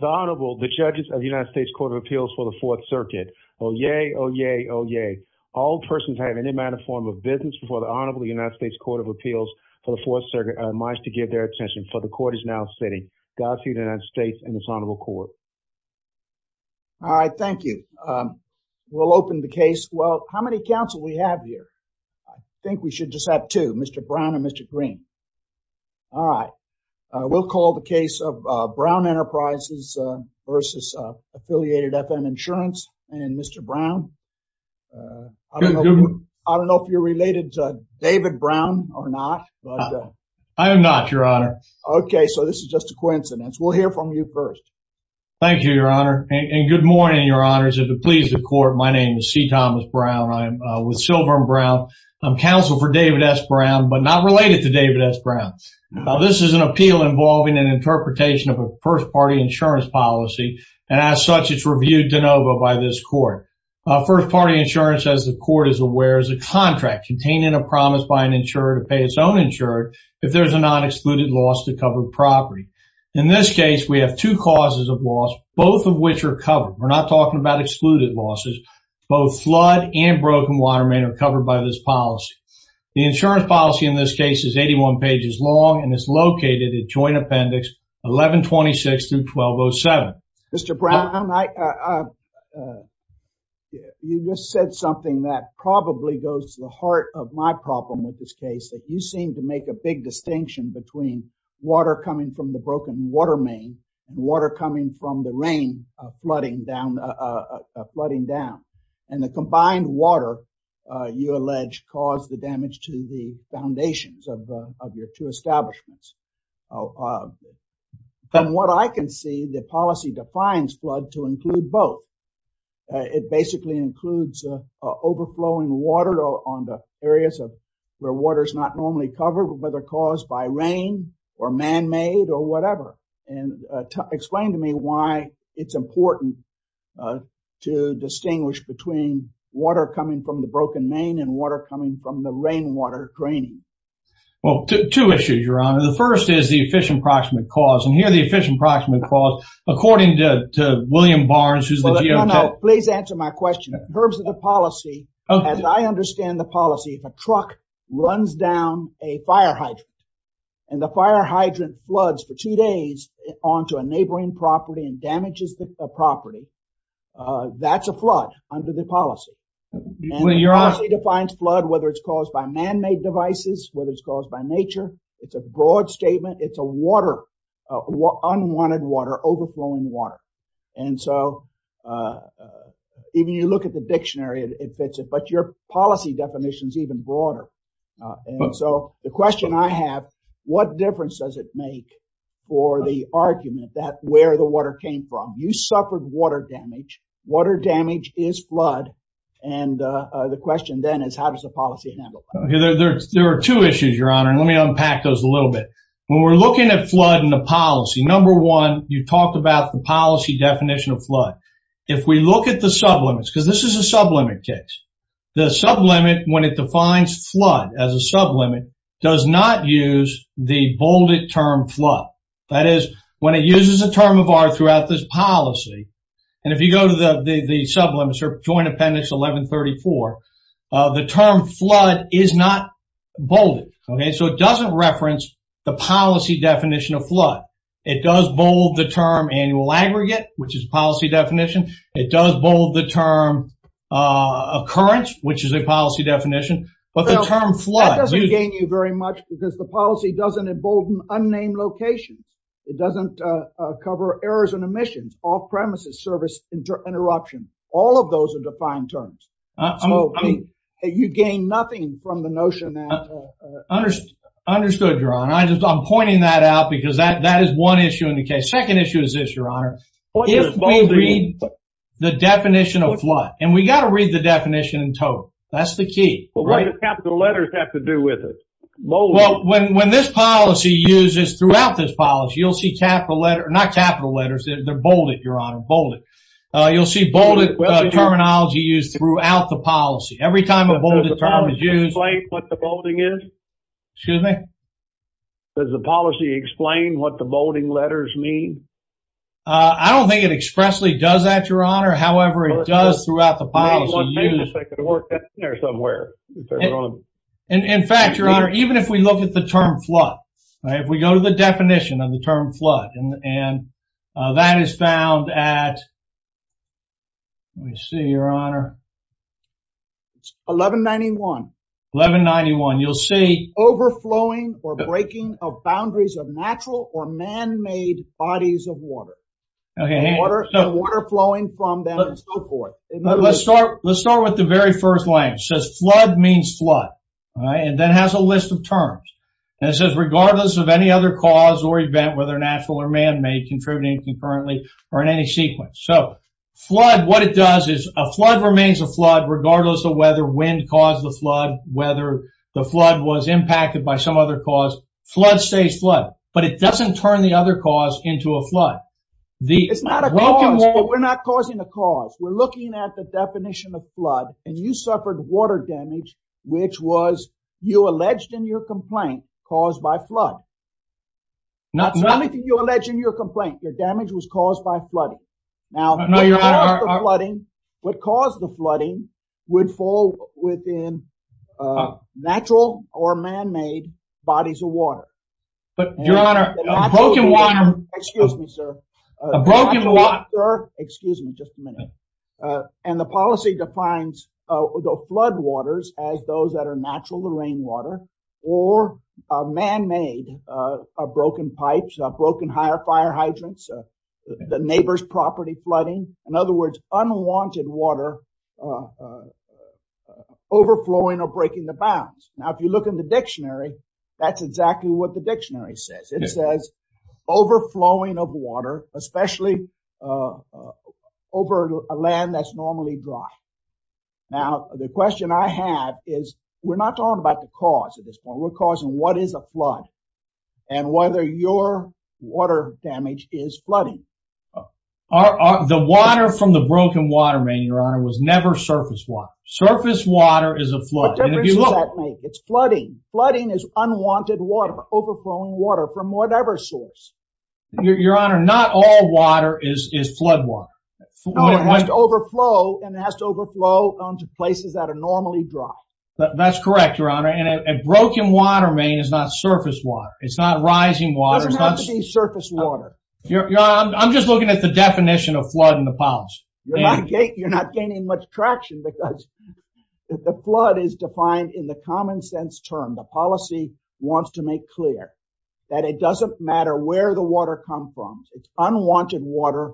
The Honorable, the judges of the United States Court of Appeals for the Fourth Circuit. Oh yay, oh yay, oh yay. All persons have any amount of form of business before the Honorable United States Court of Appeals for the Fourth Circuit are admised to give their attention, for the court is now sitting. Godspeed to the United States and this Honorable Court. All right, thank you. We'll open the case. Well, how many counsel we have here? I think we should just have two, Mr. Brown and Mr. Green. All right, we'll call the case of Brown Enterprises v. Affiliated FM Insurance and Mr. Brown. I don't know if you're related to David Brown or not. I am not, Your Honor. Okay, so this is just a coincidence. We'll hear from you first. Thank you, Your Honor. And good morning, Your Honors. If it pleases the court, my name is C. Thomas Brown. I am with Silver and Brown. I'm counsel for David S. Brown, but not related to David S. Brown. This is an appeal involving an interpretation of a first-party insurance policy, and as such, it's reviewed de novo by this court. First-party insurance, as the court is aware, is a contract containing a promise by an insurer to pay its own insurer if there's a non-excluded loss to covered property. In this case, we have two causes of loss, both of which are covered. We're not talking about excluded losses. Both flood and broken water main are covered by this policy. The insurance policy in this case is 81 pages long and is located in Joint Appendix 1126 through 1207. Mr. Brown, you just said something that probably goes to the heart of my problem with this case, that you seem to make a big distinction between water coming from the broken water main and water coming from the rain flooding down. The combined water, you allege, caused the damage to the foundations of your two establishments. From what I can see, the policy defines flood to include both. It basically includes overflowing water on the areas where water is not normally covered, whether caused by rain or man-made or whatever. Explain to me why it's important to distinguish between water coming from the broken main and water coming from the rainwater draining. Well, two issues, Your Honor. The first is the efficient approximate cause, and here the efficient approximate cause, according to William Barnes, who's the GOP. Please answer my question. In terms of the policy, as I understand the policy, if a truck runs down a fire hydrant and the fire hydrant floods for two days onto a neighboring property and damages the property, that's a flood under the policy. And the policy defines flood whether it's caused by man-made devices, whether it's caused by nature. It's a broad statement. It's a water, unwanted water, overflowing water. And so even you look at the dictionary, it fits it, your policy definition is even broader. And so the question I have, what difference does it make for the argument that where the water came from? You suffered water damage. Water damage is flood. And the question then is how does the policy handle that? There are two issues, Your Honor, and let me unpack those a little bit. When we're looking at flood in the policy, number one, you talked about the policy definition of flood. If we look at the sublimits, because this is a the sublimit, when it defines flood as a sublimit, does not use the bolded term flood. That is, when it uses a term of art throughout this policy, and if you go to the sublimits or Joint Appendix 1134, the term flood is not bolded. Okay, so it doesn't reference the policy definition of flood. It does bold the term annual aggregate, which is policy definition. It does bold the term occurrence, which is a policy definition. But the term flood... That doesn't gain you very much because the policy doesn't embolden unnamed locations. It doesn't cover errors and omissions, off-premises, service interruption. All of those are defined terms. So you gain nothing from the notion that... Understood, Your Honor. I'm pointing that out because that is one issue in the case. Second issue is this, Your Honor. If we read the definition of flood, and we got to read the definition in total. That's the key. Well, what does capital letters have to do with it? Well, when this policy uses throughout this policy, you'll see capital letter, not capital letters, they're bolded, Your Honor, bolded. You'll see bolded terminology used throughout the policy. Every time a bolded term is used... Does the policy explain what the bolding is? Excuse me? Does the policy explain what the bolding letters mean? I don't think it expressly does that, Your Honor. However, it does throughout the policy use... Well, maybe if I could work that in there somewhere. In fact, Your Honor, even if we look at the term flood, if we go to the definition of the term flood, and that is found at... Let me see, Your Honor. 1191. 1191. You'll see... Okay, hang on. ...the water flowing from them and so forth. Let's start with the very first line. It says flood means flood, all right, and then has a list of terms. And it says regardless of any other cause or event, whether natural or man-made, contributing concurrently or in any sequence. So flood, what it does is a flood remains a flood regardless of whether wind caused the flood, whether the flood was impacted by some other cause. Flood stays flood, but it doesn't turn the other cause into a flood. It's not a cause, but we're not causing a cause. We're looking at the definition of flood, and you suffered water damage, which was, you alleged in your complaint, caused by flood. It's nothing you allege in your complaint. Your damage was caused by flooding. Now, what caused the flooding would fall within natural or man-made bodies of water. But, Your Honor, a broken water... Excuse me, sir. Excuse me just a minute. And the policy defines the floodwaters as those that are natural to property flooding. In other words, unwanted water overflowing or breaking the bounds. Now, if you look in the dictionary, that's exactly what the dictionary says. It says overflowing of water, especially over a land that's normally dry. Now, the question I have is we're not talking about the cause at this point. We're causing what is a flood and whether your water damage is flooding. The water from the broken water main, Your Honor, was never surface water. Surface water is a flood. What difference does that make? It's flooding. Flooding is unwanted water, overflowing water from whatever source. Your Honor, not all water is flood water. No, it has to overflow, and it has to overflow onto places that are normally dry. That's correct, Your Honor. And a broken water main is not surface water. It's not rising water. It doesn't have to be surface water. I'm just looking at the definition of flood in the policy. You're not gaining much traction because the flood is defined in the common sense term. The policy wants to make clear that it doesn't matter where the water comes from. It's unwanted water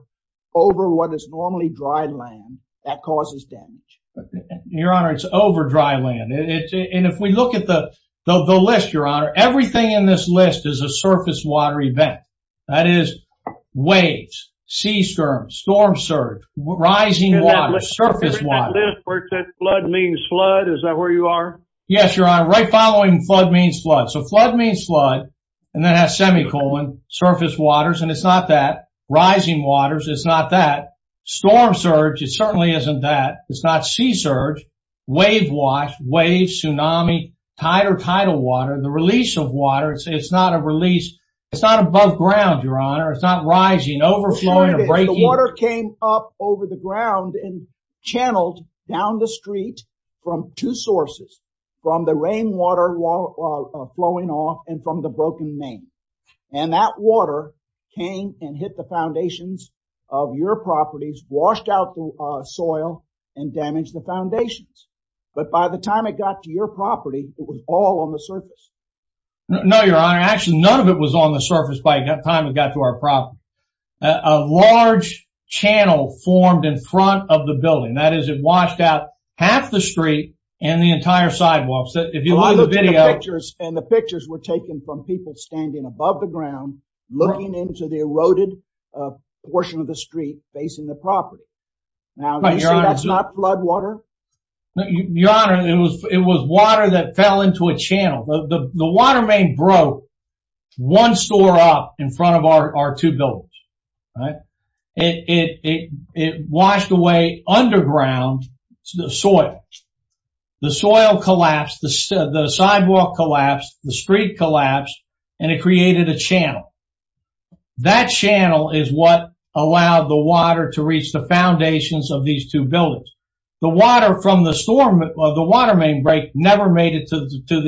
over what is normally dry land that causes damage. Your Honor, it's over dry land. And if we look at the list, Your Honor, everything in this list is a surface water event. That is waves, sea storms, storm surge, rising water, surface water. In that list where it says flood means flood, is that where you are? Yes, Your Honor. Right following flood means flood. So flood means flood, and then it has semicolon, surface waters, and it's not that. Rising waters, it's not that. Storm surge, it certainly isn't that. It's not sea surge, wave wash, waves, tsunami, tidal water. The release of water, it's not a release. It's not above ground, Your Honor. It's not rising, overflowing, or breaking. The water came up over the ground and channeled down the street from two sources. From the rainwater flowing off and from the broken main. And that water came and hit the foundations of your properties, washed out the soil, and damaged the foundations. But by the time it got to your property, it was all on the surface. No, Your Honor. Actually, none of it was on the surface by the time it got to our property. A large channel formed in front of the building. That is, it washed out half the street and the entire sidewalk. And the pictures were taken from people standing above the ground, looking into the eroded portion of the street facing the property. Now, that's not flood water? Your Honor, it was water that fell into a channel. The water main broke one store up in front of our two buildings. It washed away underground the soil. The soil collapsed, the sidewalk collapsed, the street collapsed, and it created a channel. That channel is what allowed the water to reach the foundations of these two buildings. The water from the storm, the water main break, never made it to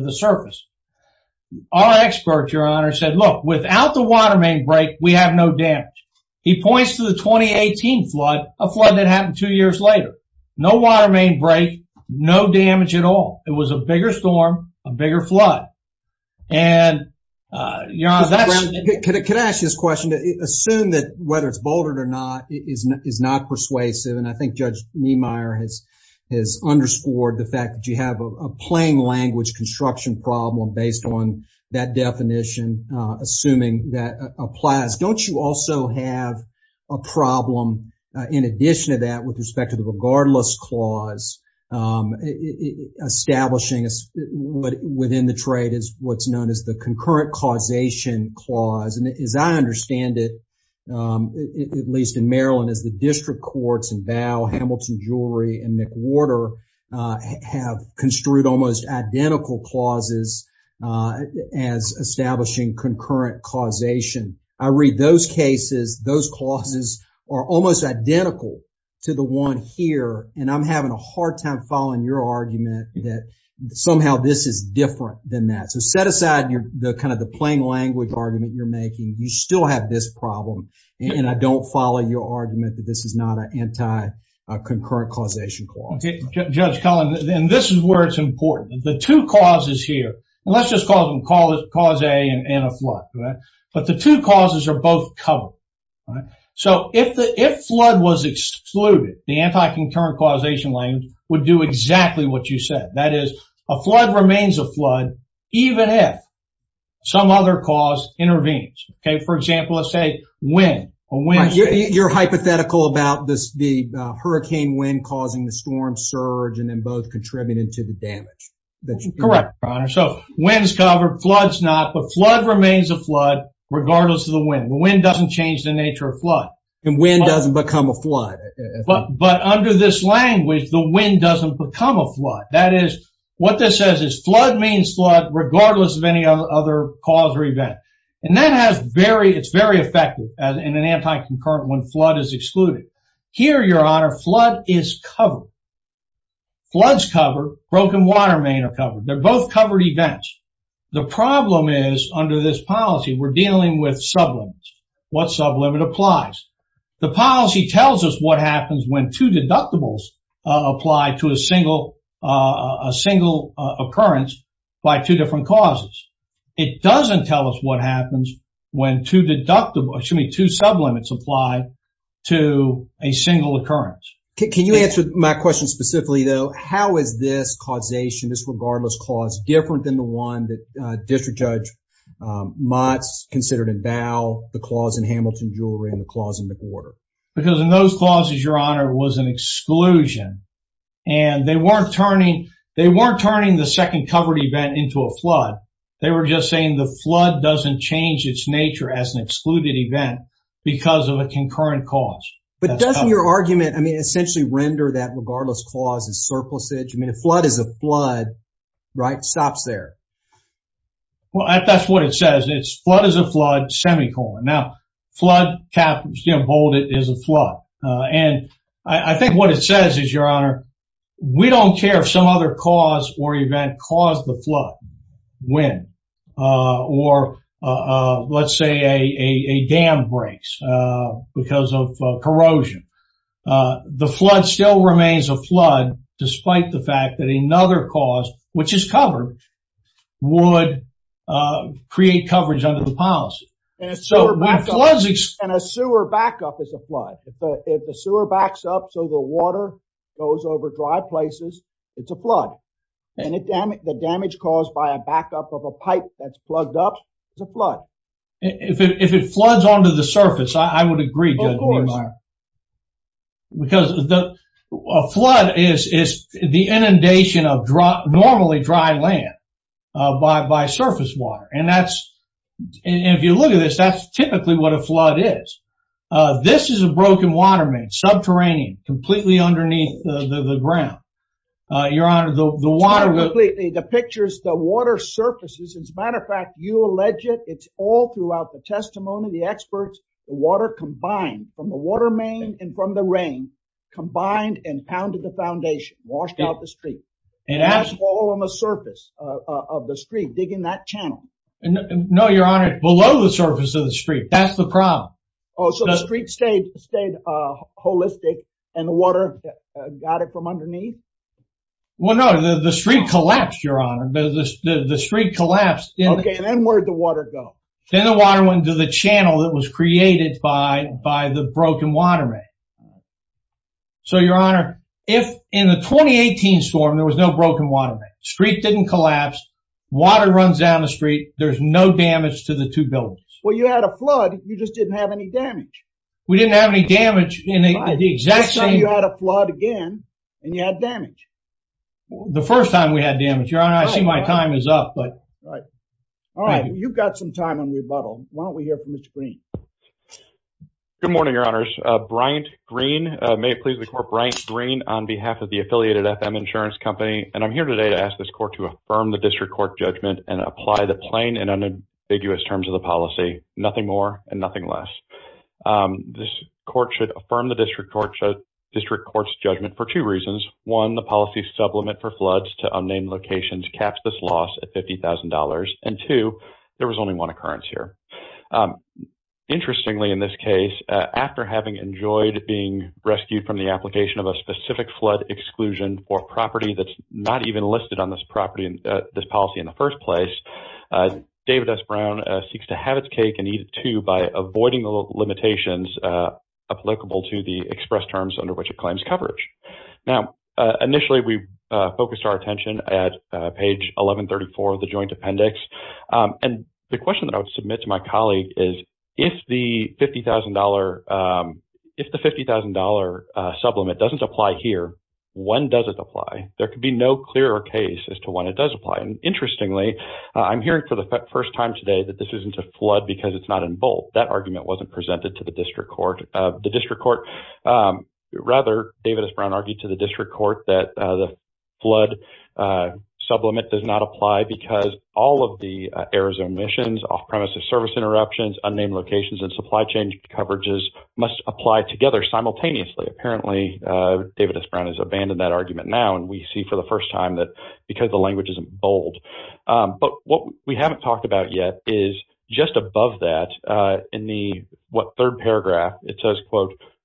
the surface. Our expert, Your Honor, said, look, without the water main break, we have no damage. He points to the 2018 flood, a flood that happened two years later. No water main break, no damage at all. It was a bigger storm, a bigger flood. And, Your Honor, that's- Could I ask you this question? Assume that whether it's bouldered or not is not persuasive. And I think Judge Niemeyer has underscored the fact that you have a plain language construction problem based on that definition, assuming that applies. Don't you also have a problem in addition to that with respect to the regardless clause establishing within the trade is what's known as the concurrent causation clause? And as I understand it, at least in Maryland, as the district courts in Bow, Hamilton Jewelry, and McWhorter have construed almost identical clauses as establishing concurrent causation. I read those cases. Those clauses are almost identical to the one here. And I'm having a hard time following your argument that somehow this is different than that. So set aside the kind of the plain language argument you're making. You still have this problem. And I don't follow your argument that this is not an anti-concurrent causation clause. Judge Cullen, and this is where it's important. The two causes here, and let's just call them cause A and a flood. But the two causes are both covered. So if the flood was excluded, the anti-concurrent causation language would do exactly what you said. That is, a flood remains a flood even if some other cause intervenes. Okay, for example, let's say wind. You're hypothetical about this, the hurricane wind causing the storm surge, and then both contributing to the damage. Correct, Your Honor. So wind's covered, flood's not. But flood remains a flood regardless of the wind. The wind doesn't change the nature of flood. And wind doesn't become a flood. But under this language, the wind doesn't become a flood. That is, what this says is flood means flood regardless of any other cause or event. And that has very, it's very effective in an anti-concurrent when flood is excluded. Here, Your Honor, flood is covered. Flood's covered, broken water main are covered. They're both covered events. The problem is, under this policy, we're dealing with sublimits. What sublimit applies? The policy tells us what happens when two deductibles apply to a single occurrence by two different causes. It doesn't tell us what happens when two deductible, excuse me, two sublimits apply to a single occurrence. Can you answer my question specifically, though? How is this causation, this regardless cause, different than the one that District Judge Motz considered in Bow, the clause in Hamilton Jewelry, and the clause in McWhorter? Because in those clauses, Your Honor, it was an exclusion. And they weren't turning the second covered event into a flood. They were just saying the flood doesn't change its nature as an excluded event because of a concurrent cause. But doesn't your argument, I mean, essentially render that regardless clause as surplusage? I mean, a flood is a flood, right? It stops there. Well, that's what it says. It's flood is a flood, semicolon. Now, flood, cap, hold it, is a flood. And I think what it says is, Your Honor, we don't care if some other cause or event caused the flood, when, or let's say a dam breaks because of corrosion. The flood still remains a flood, despite the fact that another cause, which is covered, would create coverage under the policy. And a sewer backup is a flood. If the sewer backs up so the water goes over dry places, it's a flood. And the damage caused by a backup of a pipe that's plugged up is a flood. If it floods onto the surface, I would agree, Judge Niemeyer. Of course. Because a flood is the inundation of normally dry land by surface water. And that's, if you look at this, that's typically what a flood is. This is a broken water main, subterranean, completely underneath the ground. Your Honor, the water- It's not completely. The picture is the water surfaces. As a matter of fact, you allege it. It's all throughout the testimony, the experts, the water combined from the water main and from the rain, combined and pounded the foundation, washed out the street. And that's all on the surface of the street, digging that channel. No, Your Honor. Below the surface of the street. That's the problem. Oh, so the street stayed holistic and the water got it from underneath? Well, no. The street collapsed, Your Honor. The street collapsed. Okay, and then where'd the water go? Then the water went into the channel that was created by the broken water main. So, Your Honor, in the 2018 storm, there was no broken water main. Street didn't collapse. Water runs down the street. There's no damage to the two buildings. Well, you had a flood. You just didn't have any damage. We didn't have any damage in the exact same- Let's say you had a flood again and you had damage. The first time we had damage, Your Honor. I see my time is up, but- Right. All right. You've got some time on rebuttal. Why don't we hear from Mr. Green? Good morning, Your Honors. Bryant Green. May it please the Court. Bryant Green on behalf of the Affiliated FM Insurance Company, and I'm here today to ask this Court to affirm the District Court judgment and apply the plain and unambiguous terms of the policy. Nothing more and nothing less. This Court should affirm the District Court's judgment for two reasons. One, the policy supplement for floods to unnamed locations caps this loss at $50,000. And two, there was only one occurrence here. Interestingly, in this case, after having enjoyed being rescued from the application of a specific flood exclusion for property that's not even listed on this property, this policy in the first place, David S. Brown seeks to have its cake and eat it too by avoiding the limitations applicable to the express terms under which it claims coverage. Now, initially, we focused our attention at page 1134 of the Joint Appendix. And the question that I would submit to my colleague is, if the $50,000 supplement doesn't apply here, when does it apply? There could be no clearer case as to when it does apply. And interestingly, I'm hearing for the first time today that this isn't a flood because it's not in bold. That argument wasn't presented to the District Court. Rather, David S. Brown argued to the District Court that the flood sublimate does not apply because all of the Arizona missions, off-premises service interruptions, unnamed locations, and supply chain coverages must apply together simultaneously. Apparently, David S. Brown has abandoned that argument now. And we see for the first time that because the language isn't bold. But what we haven't talked about yet is just above that, in the third paragraph, it says,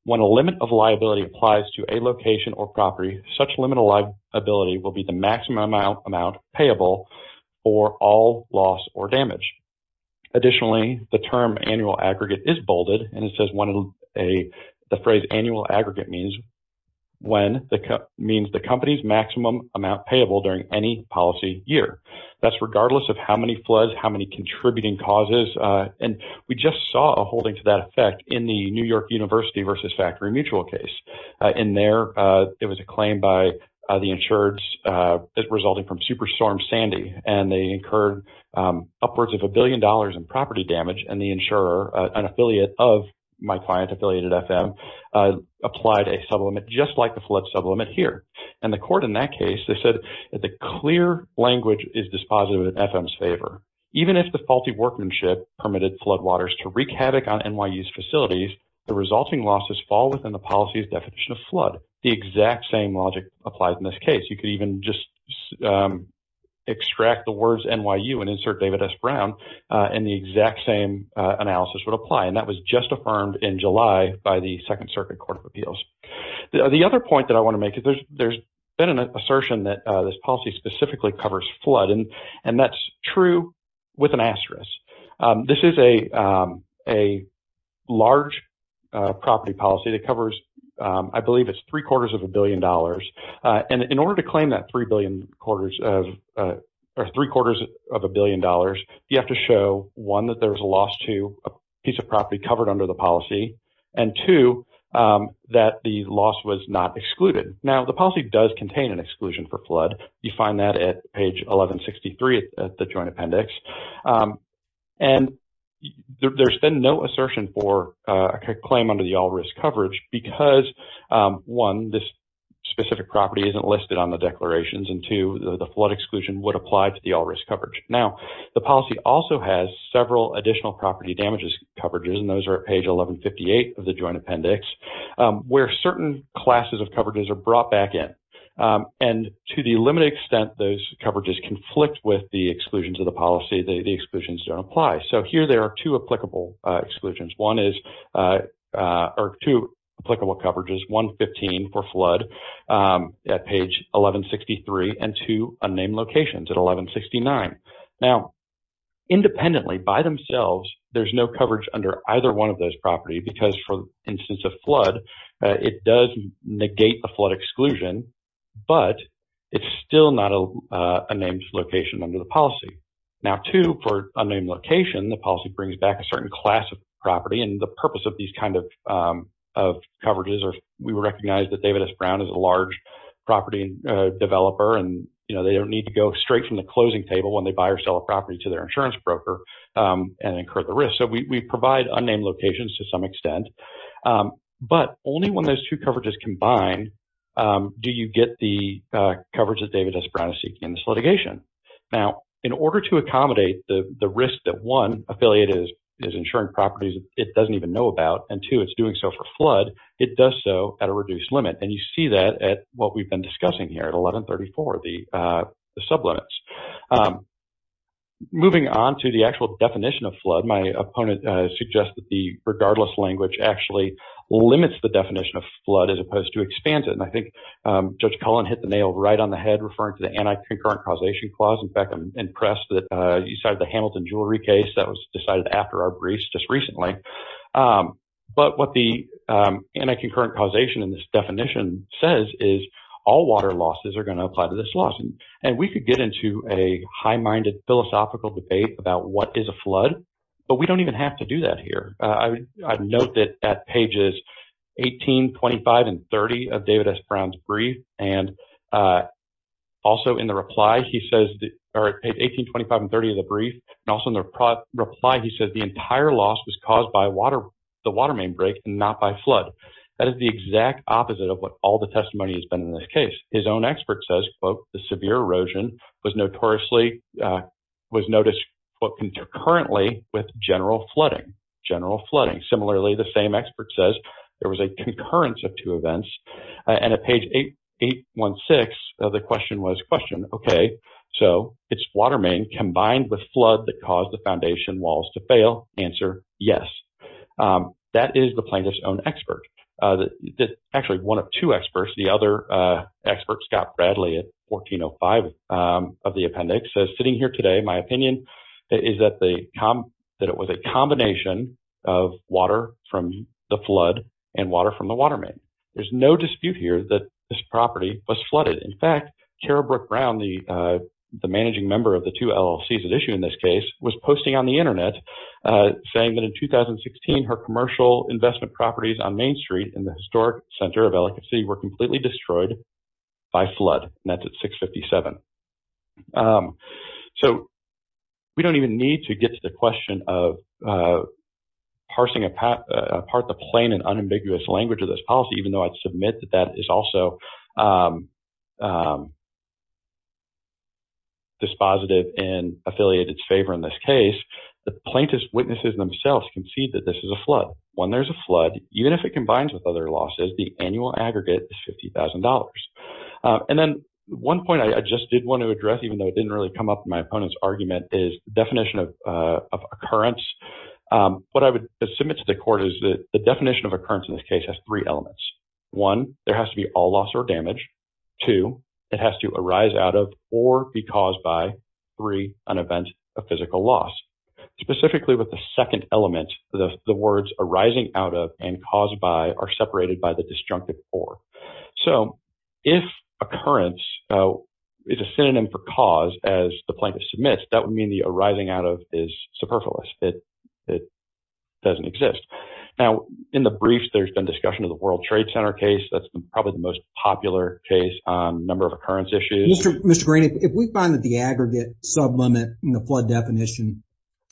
when a limit of liability applies to a location or property, such limit of liability will be the maximum amount payable for all loss or damage. Additionally, the term annual aggregate is bolded. And it says the phrase annual aggregate means the company's maximum amount payable during any policy year. That's regardless of how many floods, how many contributing causes. And we just saw a holding to that effect in the New York University versus Factory Mutual case. In there, it was a claim by the insureds resulting from Superstorm Sandy. And they incurred upwards of a billion dollars in property damage. And the insurer, an affiliate of my client, affiliated FM, applied a sublimate just like the flood sublimate here. And the court in that case, they said, the clear language is dispositive in FM's favor. Even if the faulty workmanship permitted floodwaters to wreak havoc on NYU's facilities, the resulting losses fall within the policy's definition of flood. The exact same logic applies in this case. You could even just extract the words NYU and insert David S. Brown and the exact same analysis would apply. And that was just affirmed in July by the Second Circuit Court of Appeals. The other point that I want to make is there's been an assertion that this policy specifically covers flood. And that's true with an asterisk. This is a large property policy that covers, I believe it's three quarters of a billion dollars. And in order to claim that three quarters of a billion dollars, you have to show, one, that there was a loss to a piece of property covered under the policy, and two, that the loss was not excluded. Now, the policy does contain an exclusion for flood. You find that at page 1163 of the Joint Appendix. And there's been no assertion for a claim under the all-risk coverage because, one, this specific property isn't listed on the declarations, and two, the flood exclusion would apply to the all-risk coverage. Now, the policy also has several additional property damages coverages, and those are at page 1158 of the Joint Appendix, where certain classes of coverages are brought back in. And to the limited extent those coverages conflict with the exclusions of the policy, the exclusions don't apply. So here there are two applicable exclusions. One is, or two applicable coverages, 115 for flood at page 1163, and two unnamed locations at 1169. Now, independently, by themselves, there's no coverage under either one of those property because, for instance of flood, it does negate the flood exclusion, but it's still not a named location under the policy. Now, two, for unnamed location, the policy brings back a certain class of property. And the purpose of these kind of coverages are, we recognize that David S. Brown is a large property developer, and they don't need to go straight from the closing table when they buy or sell a property to their insurance broker and incur the risk. So we provide unnamed locations to some extent, but only when those two coverages combine do you get the coverage that David S. Brown is seeking in this litigation. Now, in order to accommodate the risk that, one, affiliate is insuring properties it doesn't even know about, and two, it's doing so for flood, it does so at a reduced limit. And you see that at what we've been discussing here at 1134, the sublimits. Moving on to the actual definition of flood, my opponent suggests that the regardless language actually limits the definition of flood as opposed to expands it. And I think Judge Cullen hit the nail right on the head referring to the anti-concurrent causation clause. In fact, I'm impressed that you cited the Hamilton jewelry case that was decided after our briefs just recently. But what the anti-concurrent causation in this definition says is all water losses are going to apply to this loss. And we could get into a high-minded philosophical debate about what is a flood, but we don't even have to do that here. I'd note that at pages 18, 25, and 30 of David S. Brown's brief, and also in the reply, he says 18, 25, and 30 of the brief, and also in the reply, he says the entire loss was caused by the water main break and not by flood. That is the exact opposite of what all the testimony has been in this case. His own expert says, quote, the severe erosion was noticed concurrently with general flooding. General flooding. Similarly, the same expert says there was a concurrence of two events. And at page 816, the question was, question, okay, so it's water main combined with flood that caused the foundation walls to fail. Answer, yes. That is the plaintiff's own expert. That actually one of two experts, the other expert, Scott Bradley at 1405 of the appendix, says sitting here today, my opinion is that it was a combination of water from the flood and water from the water main. There's no dispute here that this property was flooded. In fact, Carol Brooke Brown, the managing member of the two LLCs at issue in this case, was posting on the internet saying that in 2016, her commercial investment properties on Main Street in the historic center of Ellicott City were completely destroyed by flood. And that's at 657. So we don't even need to get to the question of parsing apart the plain and unambiguous language of this policy, even though I'd submit that that is also dispositive and affiliate its favor in this case. The plaintiff's witnesses themselves can see that this is a flood. When there's a flood, even if it combines with other losses, the annual aggregate is $50,000. And then one point I just did want to address, even though it didn't really come up in my opponent's argument, is definition of occurrence. What I would submit to the court is that the definition of occurrence in this case has three elements. One, there has to be all loss or damage. Two, it has to arise out of or be caused by. Three, an event of physical loss. Specifically with the second element, the words arising out of and caused by are separated by the disjunctive or. So if occurrence is a synonym for cause as the plaintiff submits, that would mean the arising out of is superfluous. It doesn't exist. Now, in the briefs, there's been discussion of the World Trade Center case. That's probably the most popular case on number of occurrence issues. Mr. Green, if we find that the aggregate sublimit in the flood definition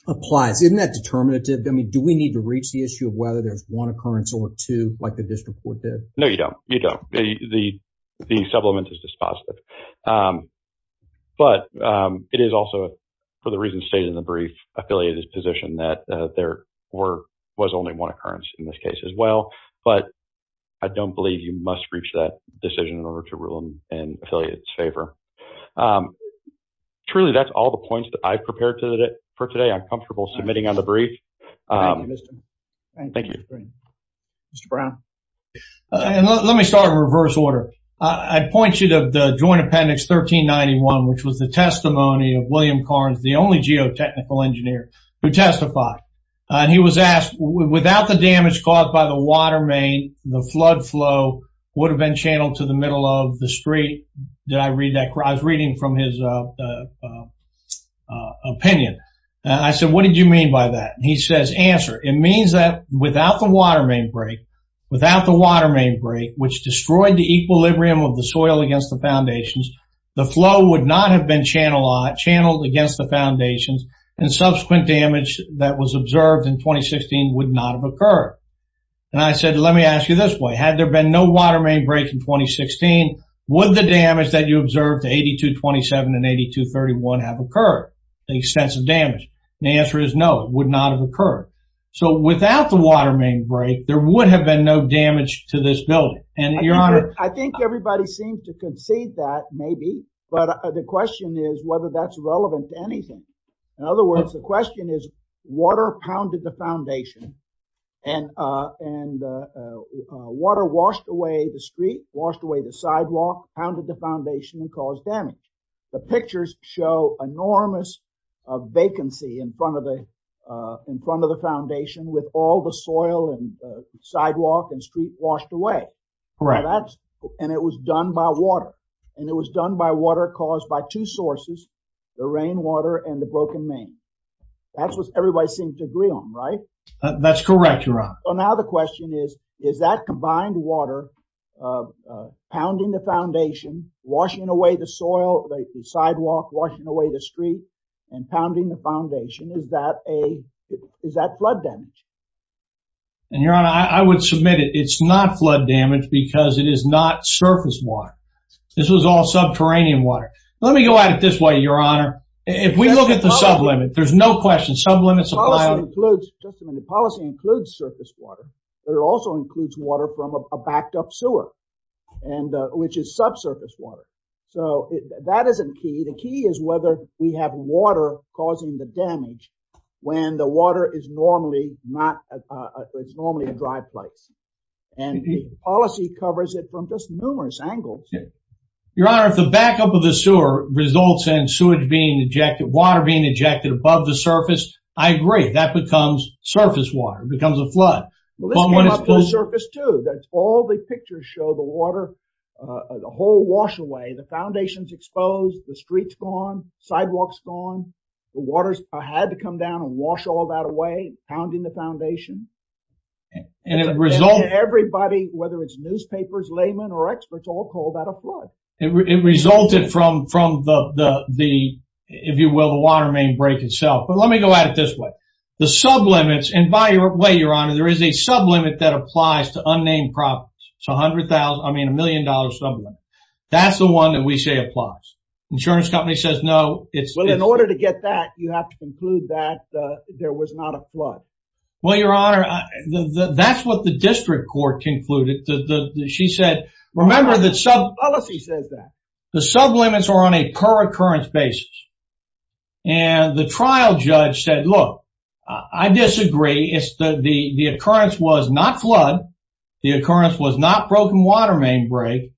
applies, isn't that determinative? I mean, do we need to reach the issue of whether there's one occurrence or two, like the district court did? No, you don't. You don't. The supplement is dispositive. But it is also, for the reasons stated in the brief, affiliated position that there was only one occurrence in this case as well. But I don't believe you must reach that decision in order to rule them in affiliates' favor. Truly, that's all the points that I've prepared for today. I'm comfortable submitting on the brief. Thank you. Mr. Brown? Let me start in reverse order. I'd point you to the Joint Appendix 1391, which was the testimony of William Carnes, the only geotechnical engineer, who testified. He was asked, without the damage caused by the water main, the flood flow would have been channeled to the middle of the street. Did I read that? I was reading from his opinion. I said, what did you mean by that? He says, answer. It means that without the water main break, without the water main break, which destroyed the equilibrium of the soil against the foundations, the flow would not have been channeled against the foundations, and subsequent damage that was observed in 2016 would not have occurred. And I said, let me ask you this way. Had there been no water main break in 2016, would the damage that you observed to 8227 and 8231 have occurred, the extensive damage? The answer is no, it would not have occurred. So without the water main break, there would have been no damage to this building. And your honor... I think everybody seems to concede that, maybe, but the question is whether that's relevant to anything. In other words, the question is, water pounded the foundation, and water washed away the street, washed away the sidewalk, pounded the foundation and caused damage. The pictures show enormous vacancy in front of the foundation with all the soil and sidewalk and street washed away. And it was done by water. And it was done by water caused by two sources, the rainwater and the broken main. That's what everybody seems to agree on, right? That's correct, your honor. So now the question is, is that combined water pounding the foundation, washing away the soil, the sidewalk, washing away the street, and pounding the foundation, is that flood damage? And your honor, I would submit it. It's not flood damage because it is not surface water. This was all subterranean water. Let me go at it this way, your honor. If we look at the sublimit, there's no question, sublimits apply. The policy includes surface water, but it also includes water from a backed up sewer, which is subsurface water. So that isn't key. The key is whether we have water causing the damage when the water is normally not, it's normally a dry place. Your honor, if the backup of the sewer results in sewage being ejected, water being ejected above the surface, I agree, that becomes surface water, it becomes a flood. Well, this came up to the surface too. That's all the pictures show, the water, the whole wash away, the foundation's exposed, the street's gone, sidewalk's gone. The water had to come down and wash all that away, pounding the foundation. And it resulted- Everybody, whether it's newspapers, laymen or experts, all call that a flood. It resulted from the, if you will, the water main break itself. But let me go at it this way. The sublimits, and by the way, your honor, there is a sublimit that applies to unnamed properties. It's 100,000, I mean, a million dollar sublimit. That's the one that we say applies. Insurance company says, no, it's- Well, in order to get that, you have to conclude that there was not a flood. Well, your honor, that's what the district court concluded. She said, remember that sub- Policy says that. The sublimits are on a per-occurrence basis. And the trial judge said, look, I disagree. It's the, the occurrence was not flood. The occurrence was not broken water main break.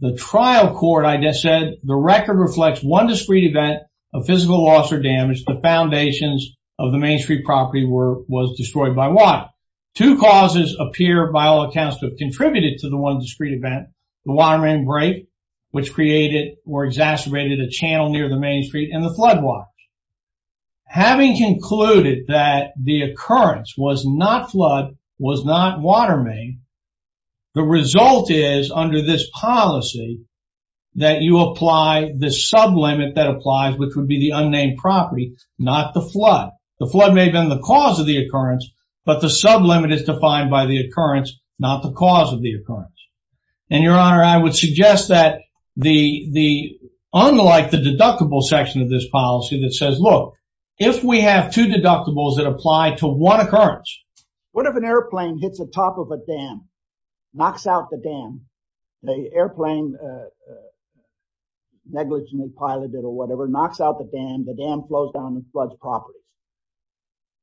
The trial court, I just said, the record reflects one discrete event of physical loss or damage. The foundations of the main street property were, was destroyed by water. Two causes appear by all accounts to have contributed to the one discrete event. The water main break, which created or exacerbated a channel near the main street and the flood watch. Having concluded that the occurrence was not flood, was not water main, the result is under this policy that you apply the sublimit that applies, which would be the unnamed property, not the flood. The flood may have been the cause of the occurrence, but the sublimit is defined by the occurrence, not the cause of the occurrence. And your honor, I would suggest that the, the unlike the deductible section of this policy that says, look, if we have two deductibles that apply to one occurrence. What if an airplane hits the top of a dam, knocks out the dam, the airplane negligent pilot or whatever, knocks out the dam, the dam flows down and floods properly.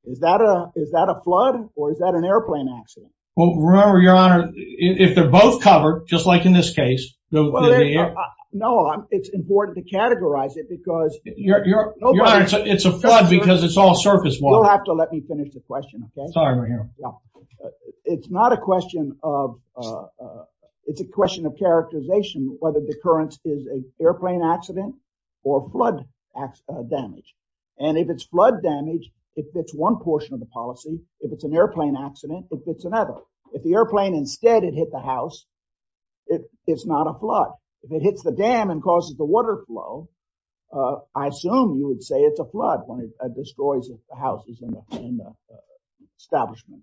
Is that a, is that a flood or is that an airplane accident? Well, remember your honor, if they're both covered, just like in this case. No, it's important to categorize it because. It's a flood because it's all surface water. You'll have to let me finish the question, okay? Sorry, your honor. It's not a question of, it's a question of characterization, whether the occurrence is an airplane accident or flood damage. And if it's flood damage, it fits one portion of the policy. If it's an airplane accident, it fits another. If the airplane instead, it hit the house, it's not a flood. If it hits the dam and causes the water flow, I assume you would say it's a flood when it destroys the houses in the establishment.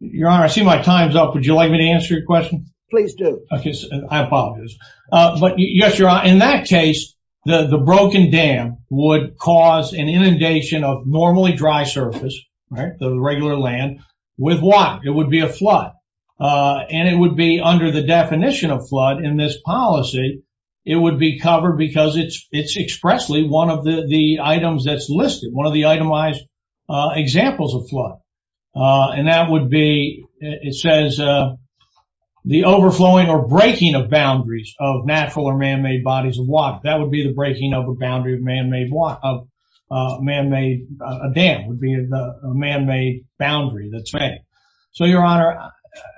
Your honor, I see my time's up. Would you like me to answer your question? Please do. Okay, I apologize. But yes, your honor, in that case, the broken dam would cause an inundation of normally dry surface, right? The regular land with what? It would be a flood. And it would be under the definition of flood in this policy. It would be covered because it's expressly one of the items that's listed, one of the itemized examples of flood. And that would be, it says, the overflowing or breaking of boundaries of natural or man-made bodies of water. That would be the breaking of a boundary of man-made dam, would be a man-made boundary. So your honor,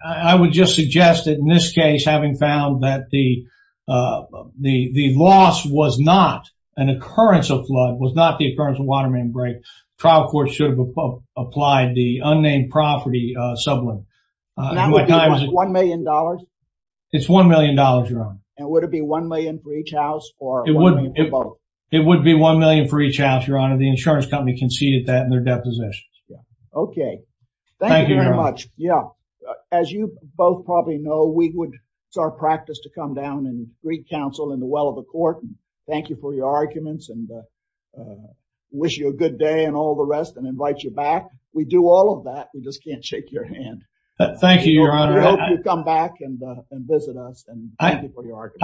I would just suggest that in this case, having found that the loss was not an occurrence of flood, was not the occurrence of water main break, trial court should have applied the unnamed property sublet. And that would be one million dollars? It's one million dollars, your honor. And would it be one million for each house? It would be one million for each house, your honor. The insurance company conceded that in their depositions. Okay, thank you very much. Yeah, as you both probably know, we would start practice to come down and greet counsel in the well of the court. Thank you for your arguments and wish you a good day and all the rest and invite you back. We do all of that. We just can't shake your hand. Thank you, your honor. I hope you come back and visit us. I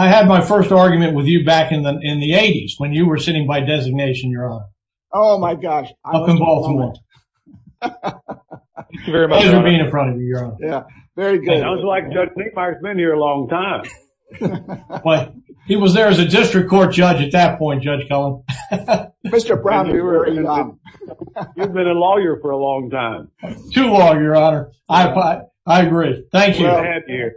had my first argument with you back in the 80s when you were sitting by designation, your honor. Oh my gosh. Thank you very much. Pleasure being in front of you, your honor. Yeah, very good. I was like, Judge St. Mark's been here a long time. He was there as a district court judge at that point, Judge Cullen. Mr. Brown, you've been a lawyer for a long time. Too long, your honor. I agree. Thank you.